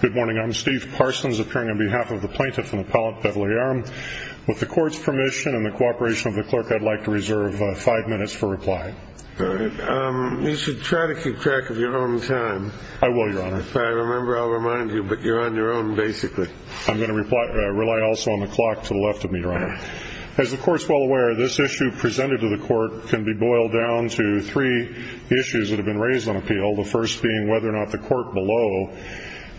Good morning, I'm Steve Parsons, appearing on behalf of the plaintiff and appellate Beverly Arum. With the court's permission and the cooperation of the clerk, I'd like to reserve five minutes for reply. You should try to keep track of your own time. I will, Your Honor. If I remember, I'll remind you, but you're on your own, basically. I'm going to rely also on the clock to the left of me, Your Honor. As the court's well aware, this issue presented to the court can be boiled down to three issues that have been raised on appeal. The first being whether or not the court below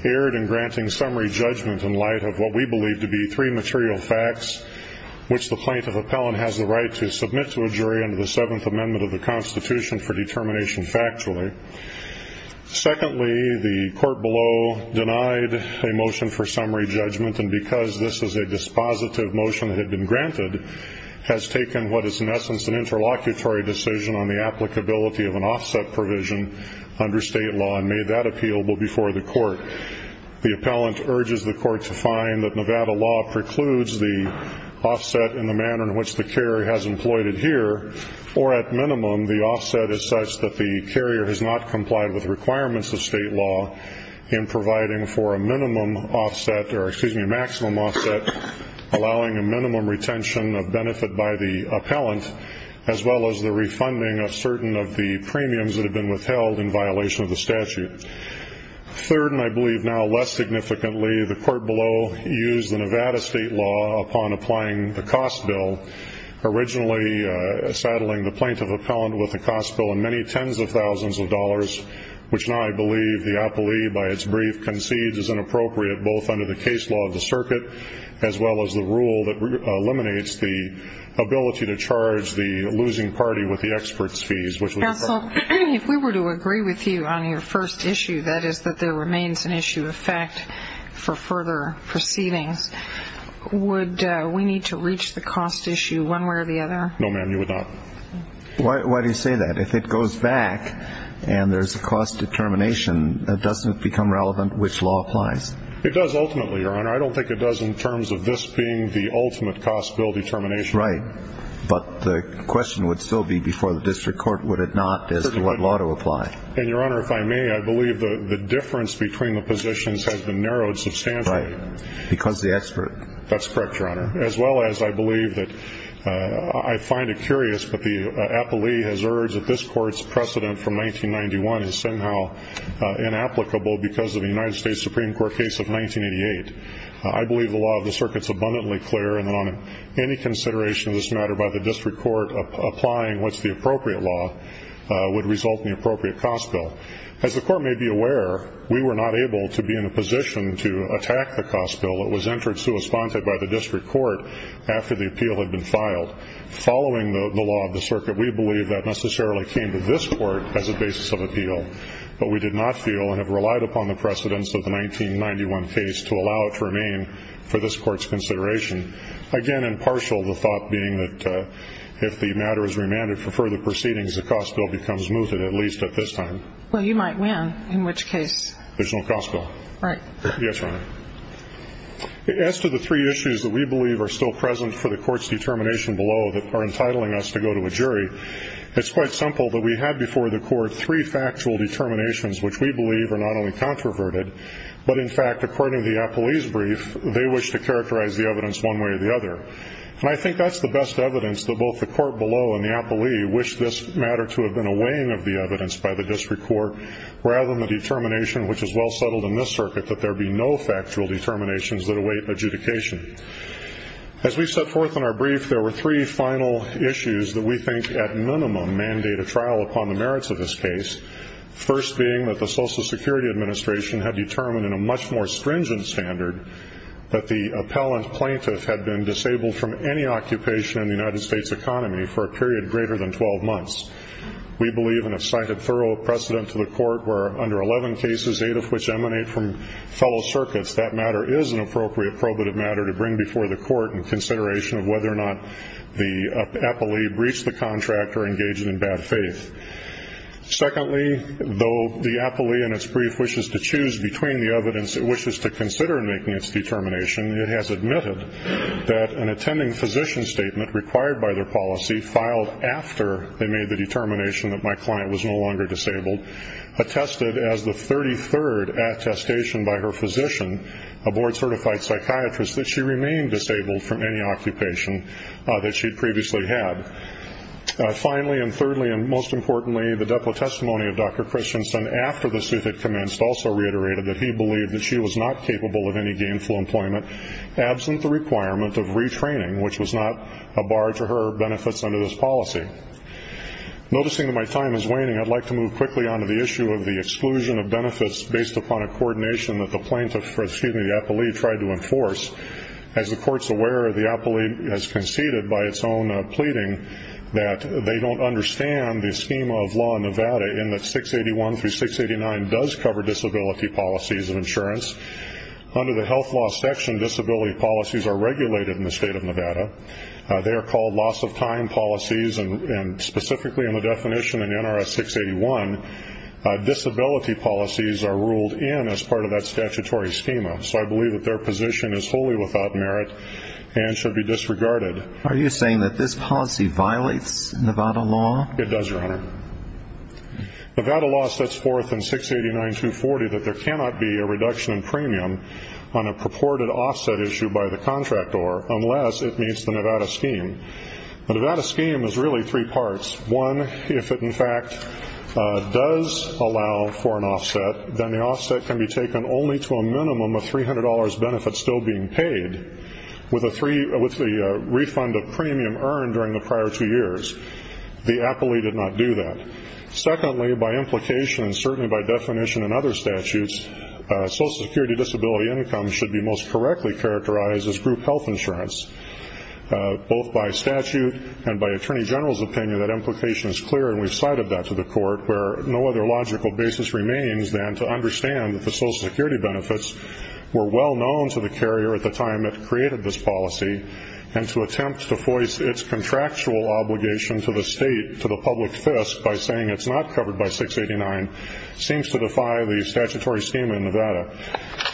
erred in granting summary judgment in light of what we believe to be three material facts, which the plaintiff appellant has the right to submit to a jury under the Seventh Amendment of the Constitution for determination factually. Secondly, the court below denied a motion for summary judgment, and because this is a dispositive motion that had been granted, has taken what is in essence an interlocutory decision on the applicability of an offset provision under state law and made that appealable before the court. The appellant urges the court to find that Nevada law precludes the offset in the manner in which the carrier has employed it here, or at minimum, the offset is such that the carrier has not complied with requirements of state law in providing for a maximum offset, allowing a minimum retention of benefit by the appellant, as well as the refunding of certain of the premiums that have been withheld in violation of the statute. Third, and I believe now less significantly, the court below used the Nevada state law upon applying the cost bill, originally saddling the plaintiff appellant with a cost bill in many tens of thousands of dollars, which now I believe the appellee by its brief concedes is inappropriate both under the case law of the circuit, as well as the rule that eliminates the ability to charge the losing party with the expert's fees. Counsel, if we were to agree with you on your first issue, that is that there remains an issue of fact for further proceedings, would we need to reach the cost issue one way or the other? No, ma'am, you would not. Why do you say that? If it goes back and there's a cost determination, doesn't it become relevant which law applies? It does ultimately, Your Honor. I don't think it does in terms of this being the ultimate cost bill determination. Right. But the question would still be before the district court, would it not, as to what law to apply? And, Your Honor, if I may, I believe the difference between the positions has been narrowed substantially. Right. Because the expert. That's correct, Your Honor. As well as I believe that I find it curious that the appellee has urged that this court's precedent from 1991 is somehow inapplicable because of the United States Supreme Court case of 1988. I believe the law of the circuit is abundantly clear, and on any consideration of this matter by the district court, applying what's the appropriate law would result in the appropriate cost bill. As the court may be aware, we were not able to be in a position to attack the cost bill. It was entered sui sponte by the district court after the appeal had been filed. Following the law of the circuit, we believe that necessarily came to this court as a basis of appeal. But we did not feel and have relied upon the precedence of the 1991 case to allow it to remain for this court's consideration. Again, impartial the thought being that if the matter is remanded for further proceedings, the cost bill becomes mooted, at least at this time. Well, you might win, in which case. There's no cost bill. Right. Yes, Your Honor. As to the three issues that we believe are still present for the court's determination below that are entitling us to go to a jury, it's quite simple that we had before the court three factual determinations which we believe are not only controverted, but in fact, according to the appellee's brief, they wish to characterize the evidence one way or the other. And I think that's the best evidence that both the court below and the appellee wish this matter to have been a weighing of the evidence by the district court, rather than the determination, which is well settled in this circuit, that there be no factual determinations that await adjudication. As we set forth in our brief, there were three final issues that we think, at minimum, mandate a trial upon the merits of this case, first being that the Social Security Administration had determined in a much more stringent standard that the appellant plaintiff had been disabled from any occupation in the United States economy for a period greater than 12 months. We believe and have cited thorough precedent to the court where under 11 cases, eight of which emanate from fellow circuits, that matter is an appropriate probative matter to bring before the court in consideration of whether or not the appellee breached the contract or engaged in bad faith. Secondly, though the appellee in its brief wishes to choose between the evidence it wishes to consider in making its determination, it has admitted that an attending physician statement required by their policy filed after they made the determination that my client was no longer disabled attested as the 33rd attestation by her physician, a board-certified psychiatrist, that she remained disabled from any occupation that she had previously had. Finally, and thirdly, and most importantly, the depo testimony of Dr. Christensen, after the suit had commenced, also reiterated that he believed that she was not capable of any gainful employment absent the requirement of retraining, which was not a bar to her benefits under this policy. Noticing that my time is waning, I'd like to move quickly on to the issue of the exclusion of benefits based upon a coordination that the plaintiff, excuse me, the appellee tried to enforce. As the court's aware, the appellee has conceded by its own pleading that they don't understand the schema of law in Nevada in that 681 through 689 does cover disability policies of insurance. Under the health law section, disability policies are regulated in the state of Nevada. They are called loss of time policies, and specifically in the definition in NRS 681, disability policies are ruled in as part of that statutory schema. So I believe that their position is wholly without merit and should be disregarded. Are you saying that this policy violates Nevada law? It does, Your Honor. Nevada law sets forth in 689-240 that there cannot be a reduction in premium on a purported offset issue by the contractor unless it meets the Nevada scheme. The Nevada scheme is really three parts. One, if it in fact does allow for an offset, then the offset can be taken only to a minimum of $300 benefits still being paid with the refund of premium earned during the prior two years. The appellee did not do that. Secondly, by implication and certainly by definition in other statutes, social security disability income should be most correctly characterized as group health insurance. Both by statute and by Attorney General's opinion, that implication is clear and we've cited that to the court where no other logical basis remains than to understand that the social security benefits were well known to the carrier at the time it created this policy and to attempt to voice its contractual obligation to the state, to the public fisc, by saying it's not covered by 689, seems to defy the statutory scheme in Nevada.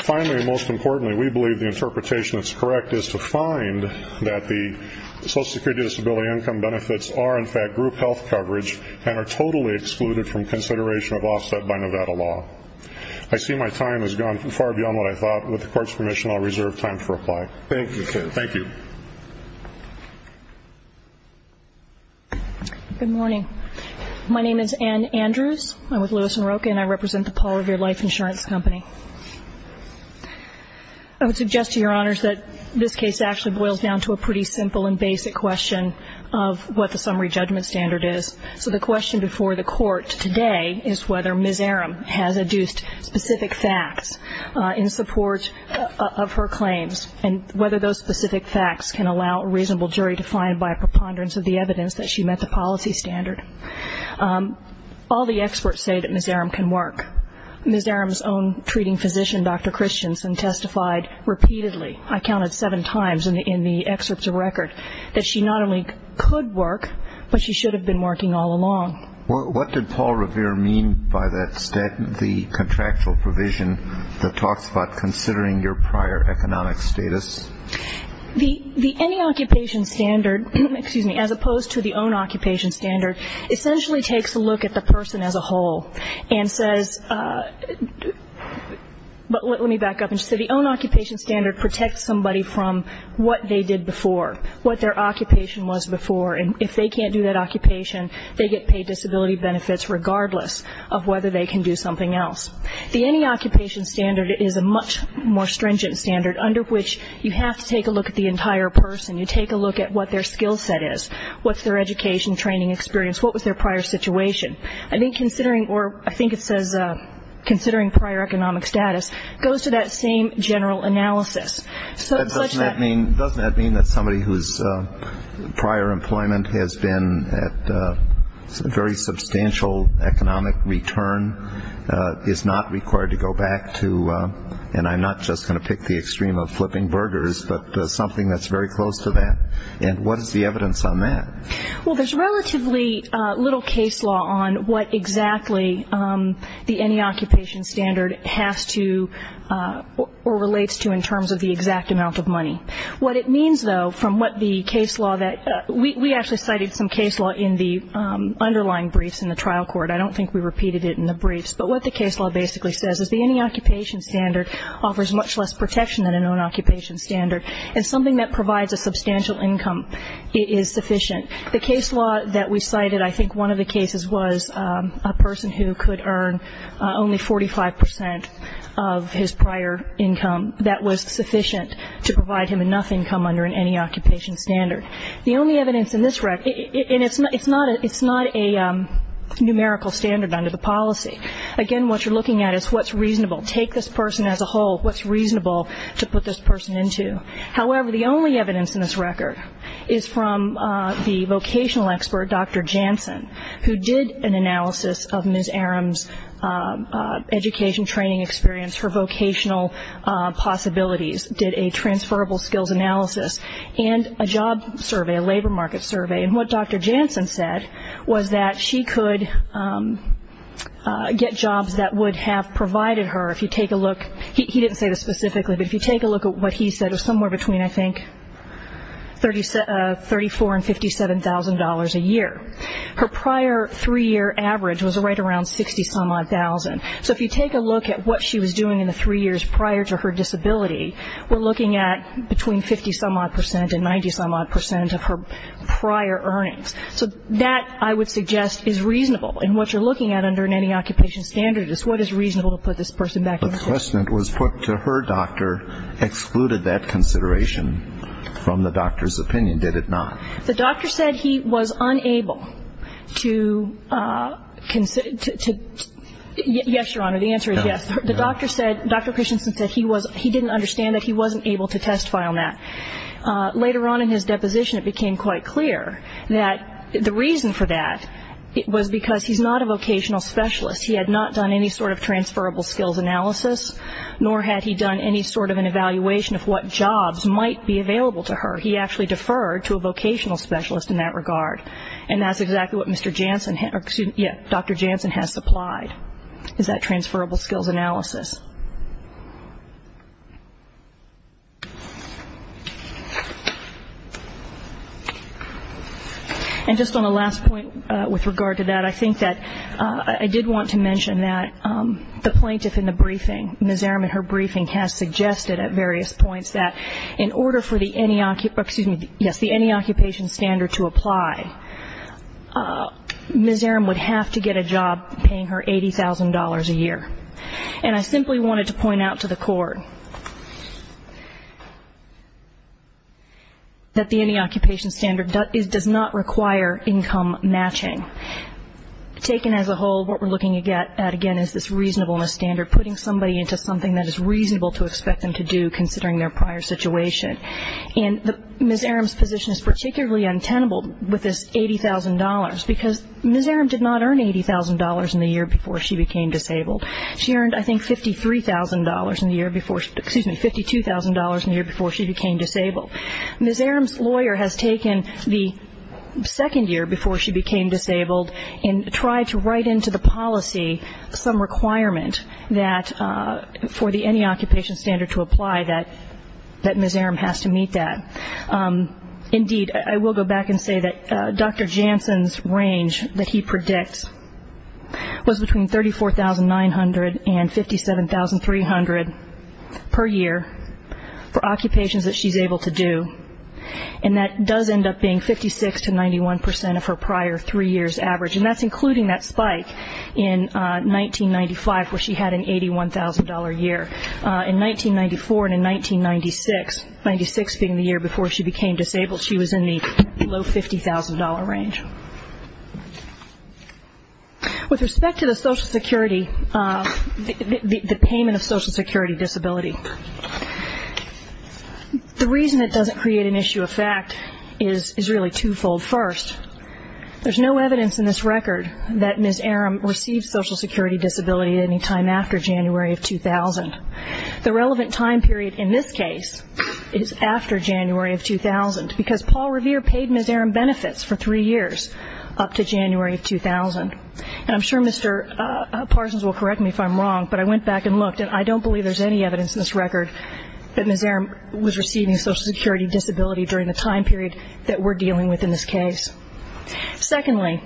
Finally and most importantly, we believe the interpretation that's correct is to find that the social security disability income benefits are in fact group health coverage and are totally excluded from consideration of offset by Nevada law. I see my time has gone far beyond what I thought. With the court's permission, I'll reserve time to reply. Thank you. Good morning. My name is Ann Andrews. I'm with Lewis & Rocha and I represent the Paul Revere Life Insurance Company. I would suggest to your honors that this case actually boils down to a pretty simple and basic question of what the summary judgment standard is. So the question before the court today is whether Ms. Arum has adduced specific facts in support of her claims and whether those specific facts can allow a reasonable jury to find by a preponderance of the evidence that she met the policy standard. All the experts say that Ms. Arum can work. Ms. Arum's own treating physician, Dr. Christensen, testified repeatedly, I counted seven times in the excerpts of record, that she not only could work, but she should have been working all along. What did Paul Revere mean by the contractual provision that talks about considering your prior economic status? The any occupation standard, excuse me, as opposed to the own occupation standard, essentially takes a look at the person as a whole and says, but let me back up and just say the own occupation standard protects somebody from what they did before, what their occupation was before. And if they can't do that occupation, they get paid disability benefits regardless of whether they can do something else. The any occupation standard is a much more stringent standard under which you have to take a look at the entire person, you take a look at what their skill set is, what's their education, training experience, what was their prior situation. I think considering, or I think it says considering prior economic status, goes to that same general analysis. Doesn't that mean that somebody whose prior employment has been at very substantial economic return is not required to go back to, and I'm not just going to pick the extreme of flipping burgers, but something that's very close to that? And what is the evidence on that? Well, there's relatively little case law on what exactly the any occupation standard has to, or relates to in terms of the exact amount of money. What it means, though, from what the case law that, we actually cited some case law in the underlying briefs in the trial court, I don't think we repeated it in the briefs, but what the case law basically says is the any occupation standard offers much less protection than an own occupation standard, and something that provides a substantial income is sufficient. The case law that we cited, I think one of the cases was a person who could earn only 45% of his prior income that was sufficient to provide him enough income under an any occupation standard. The only evidence in this record, and it's not a numerical standard under the policy. Again, what you're looking at is what's reasonable. Take this person as a whole, what's reasonable to put this person into. However, the only evidence in this record is from the vocational expert, Dr. Janssen, who did an analysis of Ms. Arum's education training experience, her vocational possibilities, did a transferable skills analysis, and a job survey, a labor market survey. And what Dr. Janssen said was that she could get jobs that would have provided her. If you take a look, he didn't say this specifically, but if you take a look Her prior three-year average was right around 60-some-odd thousand. So if you take a look at what she was doing in the three years prior to her disability, we're looking at between 50-some-odd percent and 90-some-odd percent of her prior earnings. So that, I would suggest, is reasonable. And what you're looking at under any occupation standard is what is reasonable to put this person back into. The question that was put to her doctor excluded that consideration from the doctor's opinion, did it not? The doctor said he was unable to consider, yes, Your Honor, the answer is yes. The doctor said, Dr. Christensen said he didn't understand that he wasn't able to testify on that. Later on in his deposition, it became quite clear that the reason for that was because he's not a vocational specialist. He had not done any sort of transferable skills analysis, nor had he done any sort of an evaluation of what jobs might be available to her. He actually deferred to a vocational specialist in that regard. And that's exactly what Dr. Jansen has supplied, is that transferable skills analysis. And just on the last point with regard to that, I think that I did want to mention that the plaintiff in the briefing, has suggested at various points that in order for the any, excuse me, yes, the any occupation standard to apply, Ms. Arum would have to get a job paying her $80,000 a year. And I simply wanted to point out to the court that the any occupation standard does not require income matching. Taken as a whole, what we're looking at, again, is this reasonableness standard, putting somebody into something that is reasonable to expect them to do, considering their prior situation. And Ms. Arum's position is particularly untenable with this $80,000, because Ms. Arum did not earn $80,000 in the year before she became disabled. She earned, I think, $53,000 in the year before, excuse me, $52,000 in the year before she became disabled. Ms. Arum's lawyer has taken the second year before she became disabled and tried to write into the policy some requirement that for the any occupation standard to apply that Ms. Arum has to meet that. Indeed, I will go back and say that Dr. Janssen's range that he predicts was between $34,900 and $57,300 per year for occupations that she's able to do. And that does end up being 56% to 91% of her prior three years average, and that's including that spike in 1995 where she had an $81,000 year. In 1994 and in 1996, 1996 being the year before she became disabled, she was in the low $50,000 range. With respect to the Social Security, the payment of Social Security disability, the reason it doesn't create an issue of fact is really twofold. First, there's no evidence in this record that Ms. Arum received Social Security disability any time after January of 2000. The relevant time period in this case is after January of 2000, because Paul Revere paid Ms. Arum benefits for three years up to January of 2000. And I'm sure Mr. Parsons will correct me if I'm wrong, but I went back and looked, and I don't believe there's any evidence in this record that Ms. Arum was receiving Social Security disability during the time period that we're dealing with in this case. Secondly,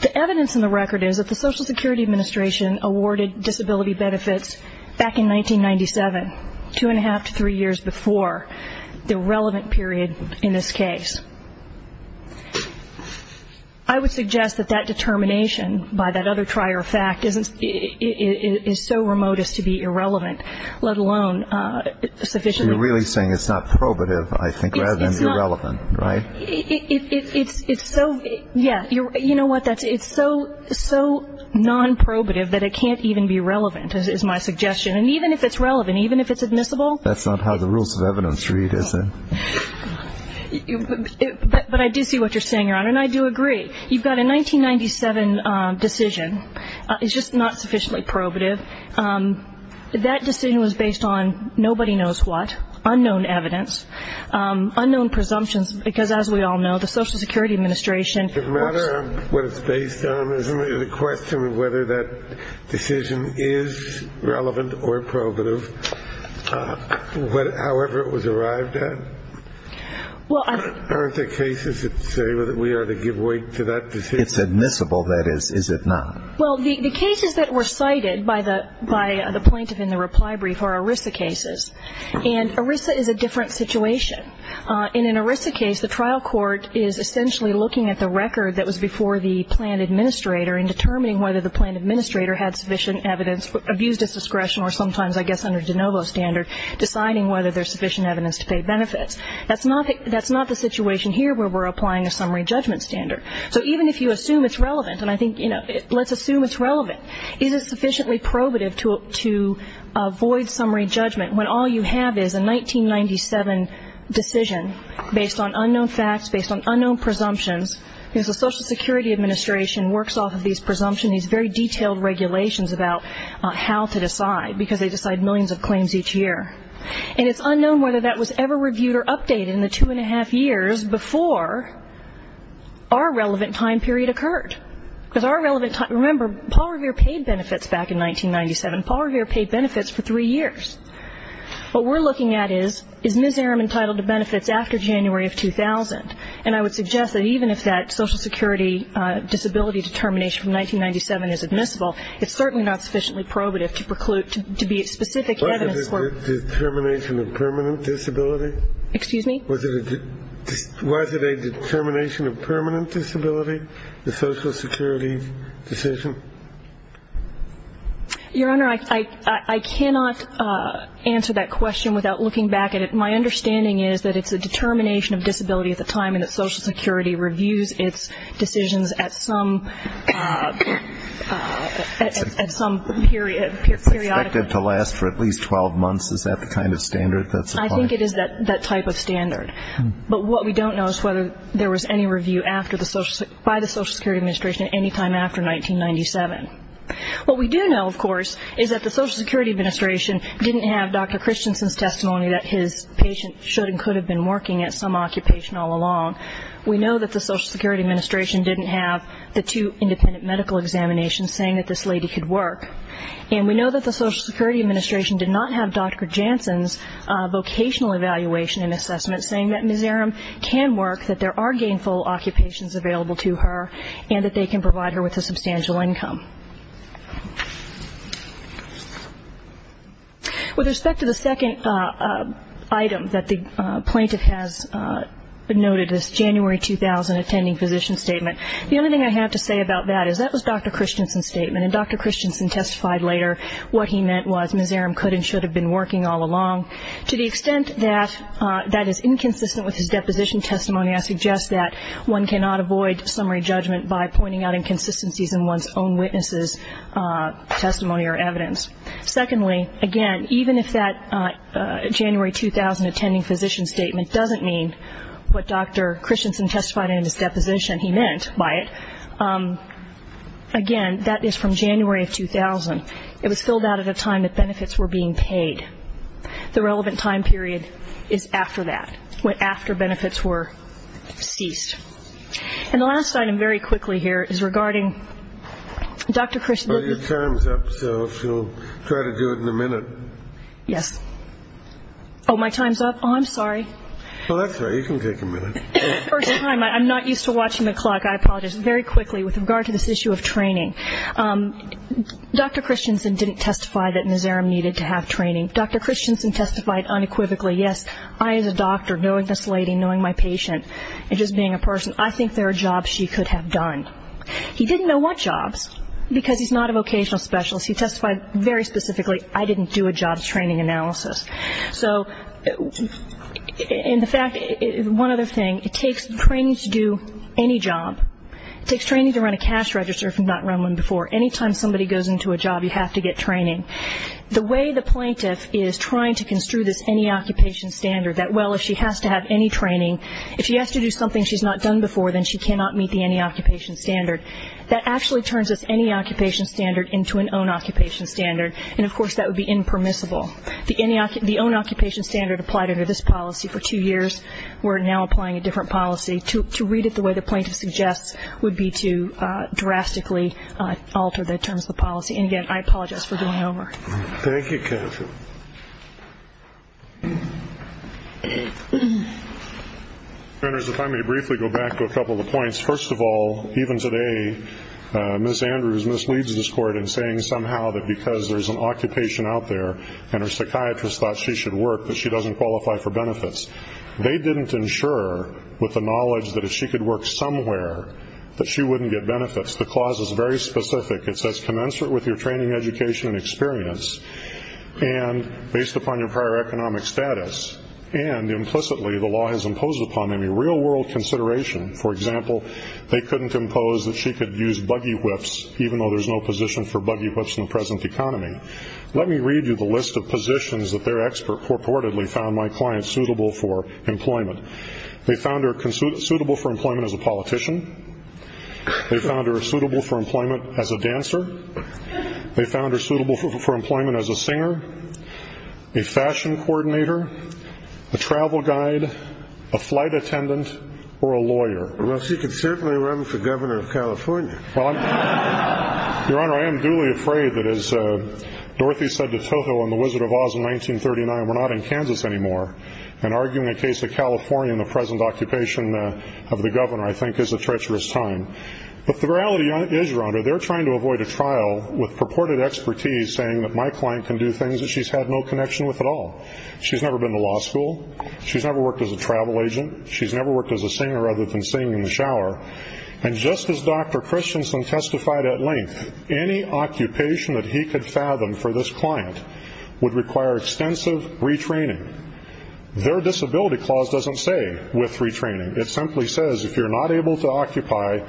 the evidence in the record is that the Social Security Administration awarded disability benefits back in 1997, two and a half to three years before the relevant period in this case. I would suggest that that determination by that other trier of fact is so remote as to be irrelevant, let alone sufficiently. So you're really saying it's not probative, I think, rather than irrelevant, right? It's so, yeah, you know what, it's so non-probative that it can't even be relevant is my suggestion. And even if it's relevant, even if it's admissible. That's not how the rules of evidence read, is it? But I do see what you're saying, Your Honor, and I do agree. You've got a 1997 decision. It's just not sufficiently probative. That decision was based on nobody knows what, unknown evidence, unknown presumptions, because as we all know, the Social Security Administration. It's a matter of what it's based on, isn't it? The question of whether that decision is relevant or probative, however it was arrived at. Aren't there cases that say we ought to give way to that decision? It's admissible, that is, is it not? Well, the cases that were cited by the plaintiff in the reply brief are ERISA cases. And ERISA is a different situation. In an ERISA case, the trial court is essentially looking at the record that was before the plan administrator and determining whether the plan administrator had sufficient evidence, abused its discretion or sometimes, I guess, under de novo standard, deciding whether there's sufficient evidence to pay benefits. That's not the situation here where we're applying a summary judgment standard. So even if you assume it's relevant, and I think, you know, let's assume it's relevant, is it sufficiently probative to avoid summary judgment when all you have is a 1997 decision based on unknown facts, based on unknown presumptions. The Social Security Administration works off of these presumptions, these very detailed regulations about how to decide because they decide millions of claims each year. And it's unknown whether that was ever reviewed or updated in the two and a half years before our relevant time period occurred. Remember, Paul Revere paid benefits back in 1997. Paul Revere paid benefits for three years. What we're looking at is, is Ms. Arum entitled to benefits after January of 2000? And I would suggest that even if that Social Security disability determination from 1997 is admissible, it's certainly not sufficiently probative to preclude, to be specific evidence for. Was it a determination of permanent disability? Excuse me? Was it a determination of permanent disability, the Social Security decision? Your Honor, I cannot answer that question without looking back at it. My understanding is that it's a determination of disability at the time and that Social Security reviews its decisions at some period. It's expected to last for at least 12 months. Is that the kind of standard that's applied? I think it is that type of standard. But what we don't know is whether there was any review by the Social Security Administration any time after 1997. What we do know, of course, is that the Social Security Administration didn't have Dr. Christensen's testimony that his patient should and could have been working at some occupation all along. We know that the Social Security Administration didn't have the two independent medical examinations saying that this lady could work. And we know that the Social Security Administration did not have Dr. Jansen's vocational evaluation and assessment saying that Ms. Arum can work, that there are gainful occupations available to her, and that they can provide her with a substantial income. With respect to the second item that the plaintiff has noted, this January 2000 attending physician statement, the only thing I have to say about that is that was Dr. Christensen's statement, and Dr. Christensen testified later what he meant was Ms. Arum could and should have been working all along. To the extent that that is inconsistent with his deposition testimony, I suggest that one cannot avoid summary judgment by pointing out inconsistencies in one's own witness's testimony or evidence. Secondly, again, even if that January 2000 attending physician statement doesn't mean what Dr. Christensen testified in his deposition he meant by it, again, that is from January of 2000. It was filled out at a time that benefits were being paid. The relevant time period is after that, after benefits were ceased. And the last item very quickly here is regarding Dr. Christensen. Your time's up, so if you'll try to do it in a minute. Yes. Oh, my time's up? Oh, I'm sorry. Oh, that's all right. You can take a minute. First time. I'm not used to watching the clock. I apologize. Very quickly, with regard to this issue of training, Dr. Christensen didn't testify that Ms. Arum needed to have training. Dr. Christensen testified unequivocally, yes, I as a doctor, knowing this lady, knowing my patient, and just being a person, I think there are jobs she could have done. He didn't know what jobs, because he's not a vocational specialist. He testified very specifically, I didn't do a job training analysis. So, in fact, one other thing, it takes training to do any job. It takes training to run a cash register if you've not run one before. Anytime somebody goes into a job, you have to get training. The way the plaintiff is trying to construe this any occupation standard, that, well, if she has to have any training, if she has to do something she's not done before, then she cannot meet the any occupation standard, that actually turns this any occupation standard into an own occupation standard, and, of course, that would be impermissible. The own occupation standard applied under this policy for two years. We're now applying a different policy. To read it the way the plaintiff suggests would be to drastically alter the terms of the policy. And, again, I apologize for going over. Thank you, Catherine. If I may briefly go back to a couple of the points. First of all, even today, Ms. Andrews misleads this Court in saying somehow that because there's an occupation out there and her psychiatrist thought she should work, that she doesn't qualify for benefits. They didn't insure with the knowledge that if she could work somewhere, that she wouldn't get benefits. The clause is very specific. It says commensurate with your training, education, and experience, and based upon your prior economic status, and implicitly the law has imposed upon them a real-world consideration. For example, they couldn't impose that she could use buggy whips, even though there's no position for buggy whips in the present economy. Let me read you the list of positions that their expert purportedly found my client suitable for employment. They found her suitable for employment as a politician. They found her suitable for employment as a dancer. They found her suitable for employment as a singer, a fashion coordinator, a travel guide, a flight attendant, or a lawyer. Well, she could certainly run for governor of California. Your Honor, I am duly afraid that as Dorothy said to Toho in The Wizard of Oz in 1939, we're not in Kansas anymore, and arguing a case of California in the present occupation of the governor I think is a treacherous time. But the reality is, Your Honor, they're trying to avoid a trial with purported expertise saying that my client can do things that she's had no connection with at all. She's never been to law school. She's never worked as a travel agent. She's never worked as a singer other than singing in the shower. And just as Dr. Christensen testified at length, any occupation that he could fathom for this client would require extensive retraining. Their disability clause doesn't say with retraining. It simply says if you're not able to occupy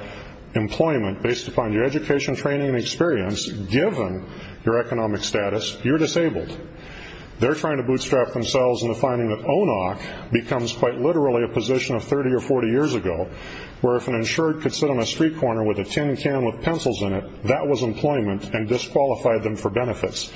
employment based upon your education, training, and experience, given your economic status, you're disabled. They're trying to bootstrap themselves into finding that ONOC becomes quite literally a position of 30 or 40 years ago where if an insured could sit on a street corner with a tin can with pencils in it, that was employment and disqualified them for benefits.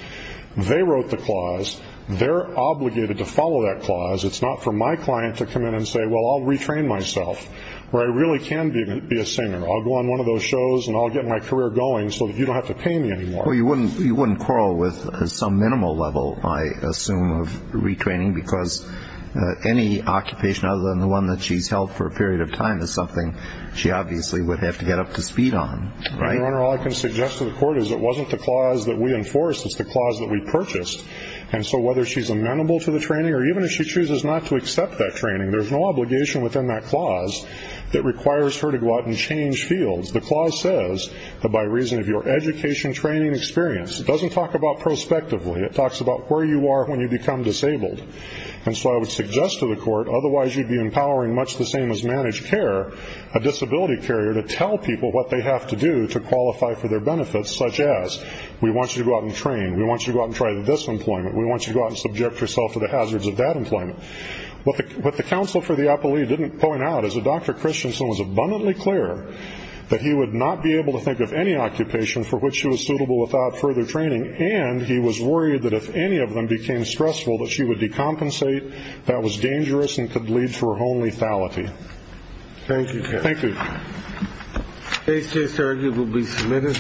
They wrote the clause. They're obligated to follow that clause. It's not for my client to come in and say, well, I'll retrain myself, where I really can be a singer. I'll go on one of those shows and I'll get my career going so that you don't have to pay me anymore. Well, you wouldn't quarrel with some minimal level, I assume, of retraining because any occupation other than the one that she's held for a period of time is something she obviously would have to get up to speed on, right? Your Honor, all I can suggest to the Court is it wasn't the clause that we enforced. It's the clause that we purchased. And so whether she's amenable to the training or even if she chooses not to accept that training, there's no obligation within that clause that requires her to go out and change fields. The clause says that by reason of your education, training, and experience. It doesn't talk about prospectively. It talks about where you are when you become disabled. And so I would suggest to the Court, otherwise you'd be empowering much the same as managed care, a disability carrier to tell people what they have to do to qualify for their benefits, such as we want you to go out and train, we want you to go out and try the disemployment, we want you to go out and subject yourself to the hazards of that employment. What the counsel for the appellee didn't point out was that Dr. Christensen was abundantly clear that he would not be able to think of any occupation for which she was suitable without further training, and he was worried that if any of them became stressful that she would decompensate, that was dangerous and could lead to her home lethality. Thank you, Judge. Thank you. This case is arguably submitted.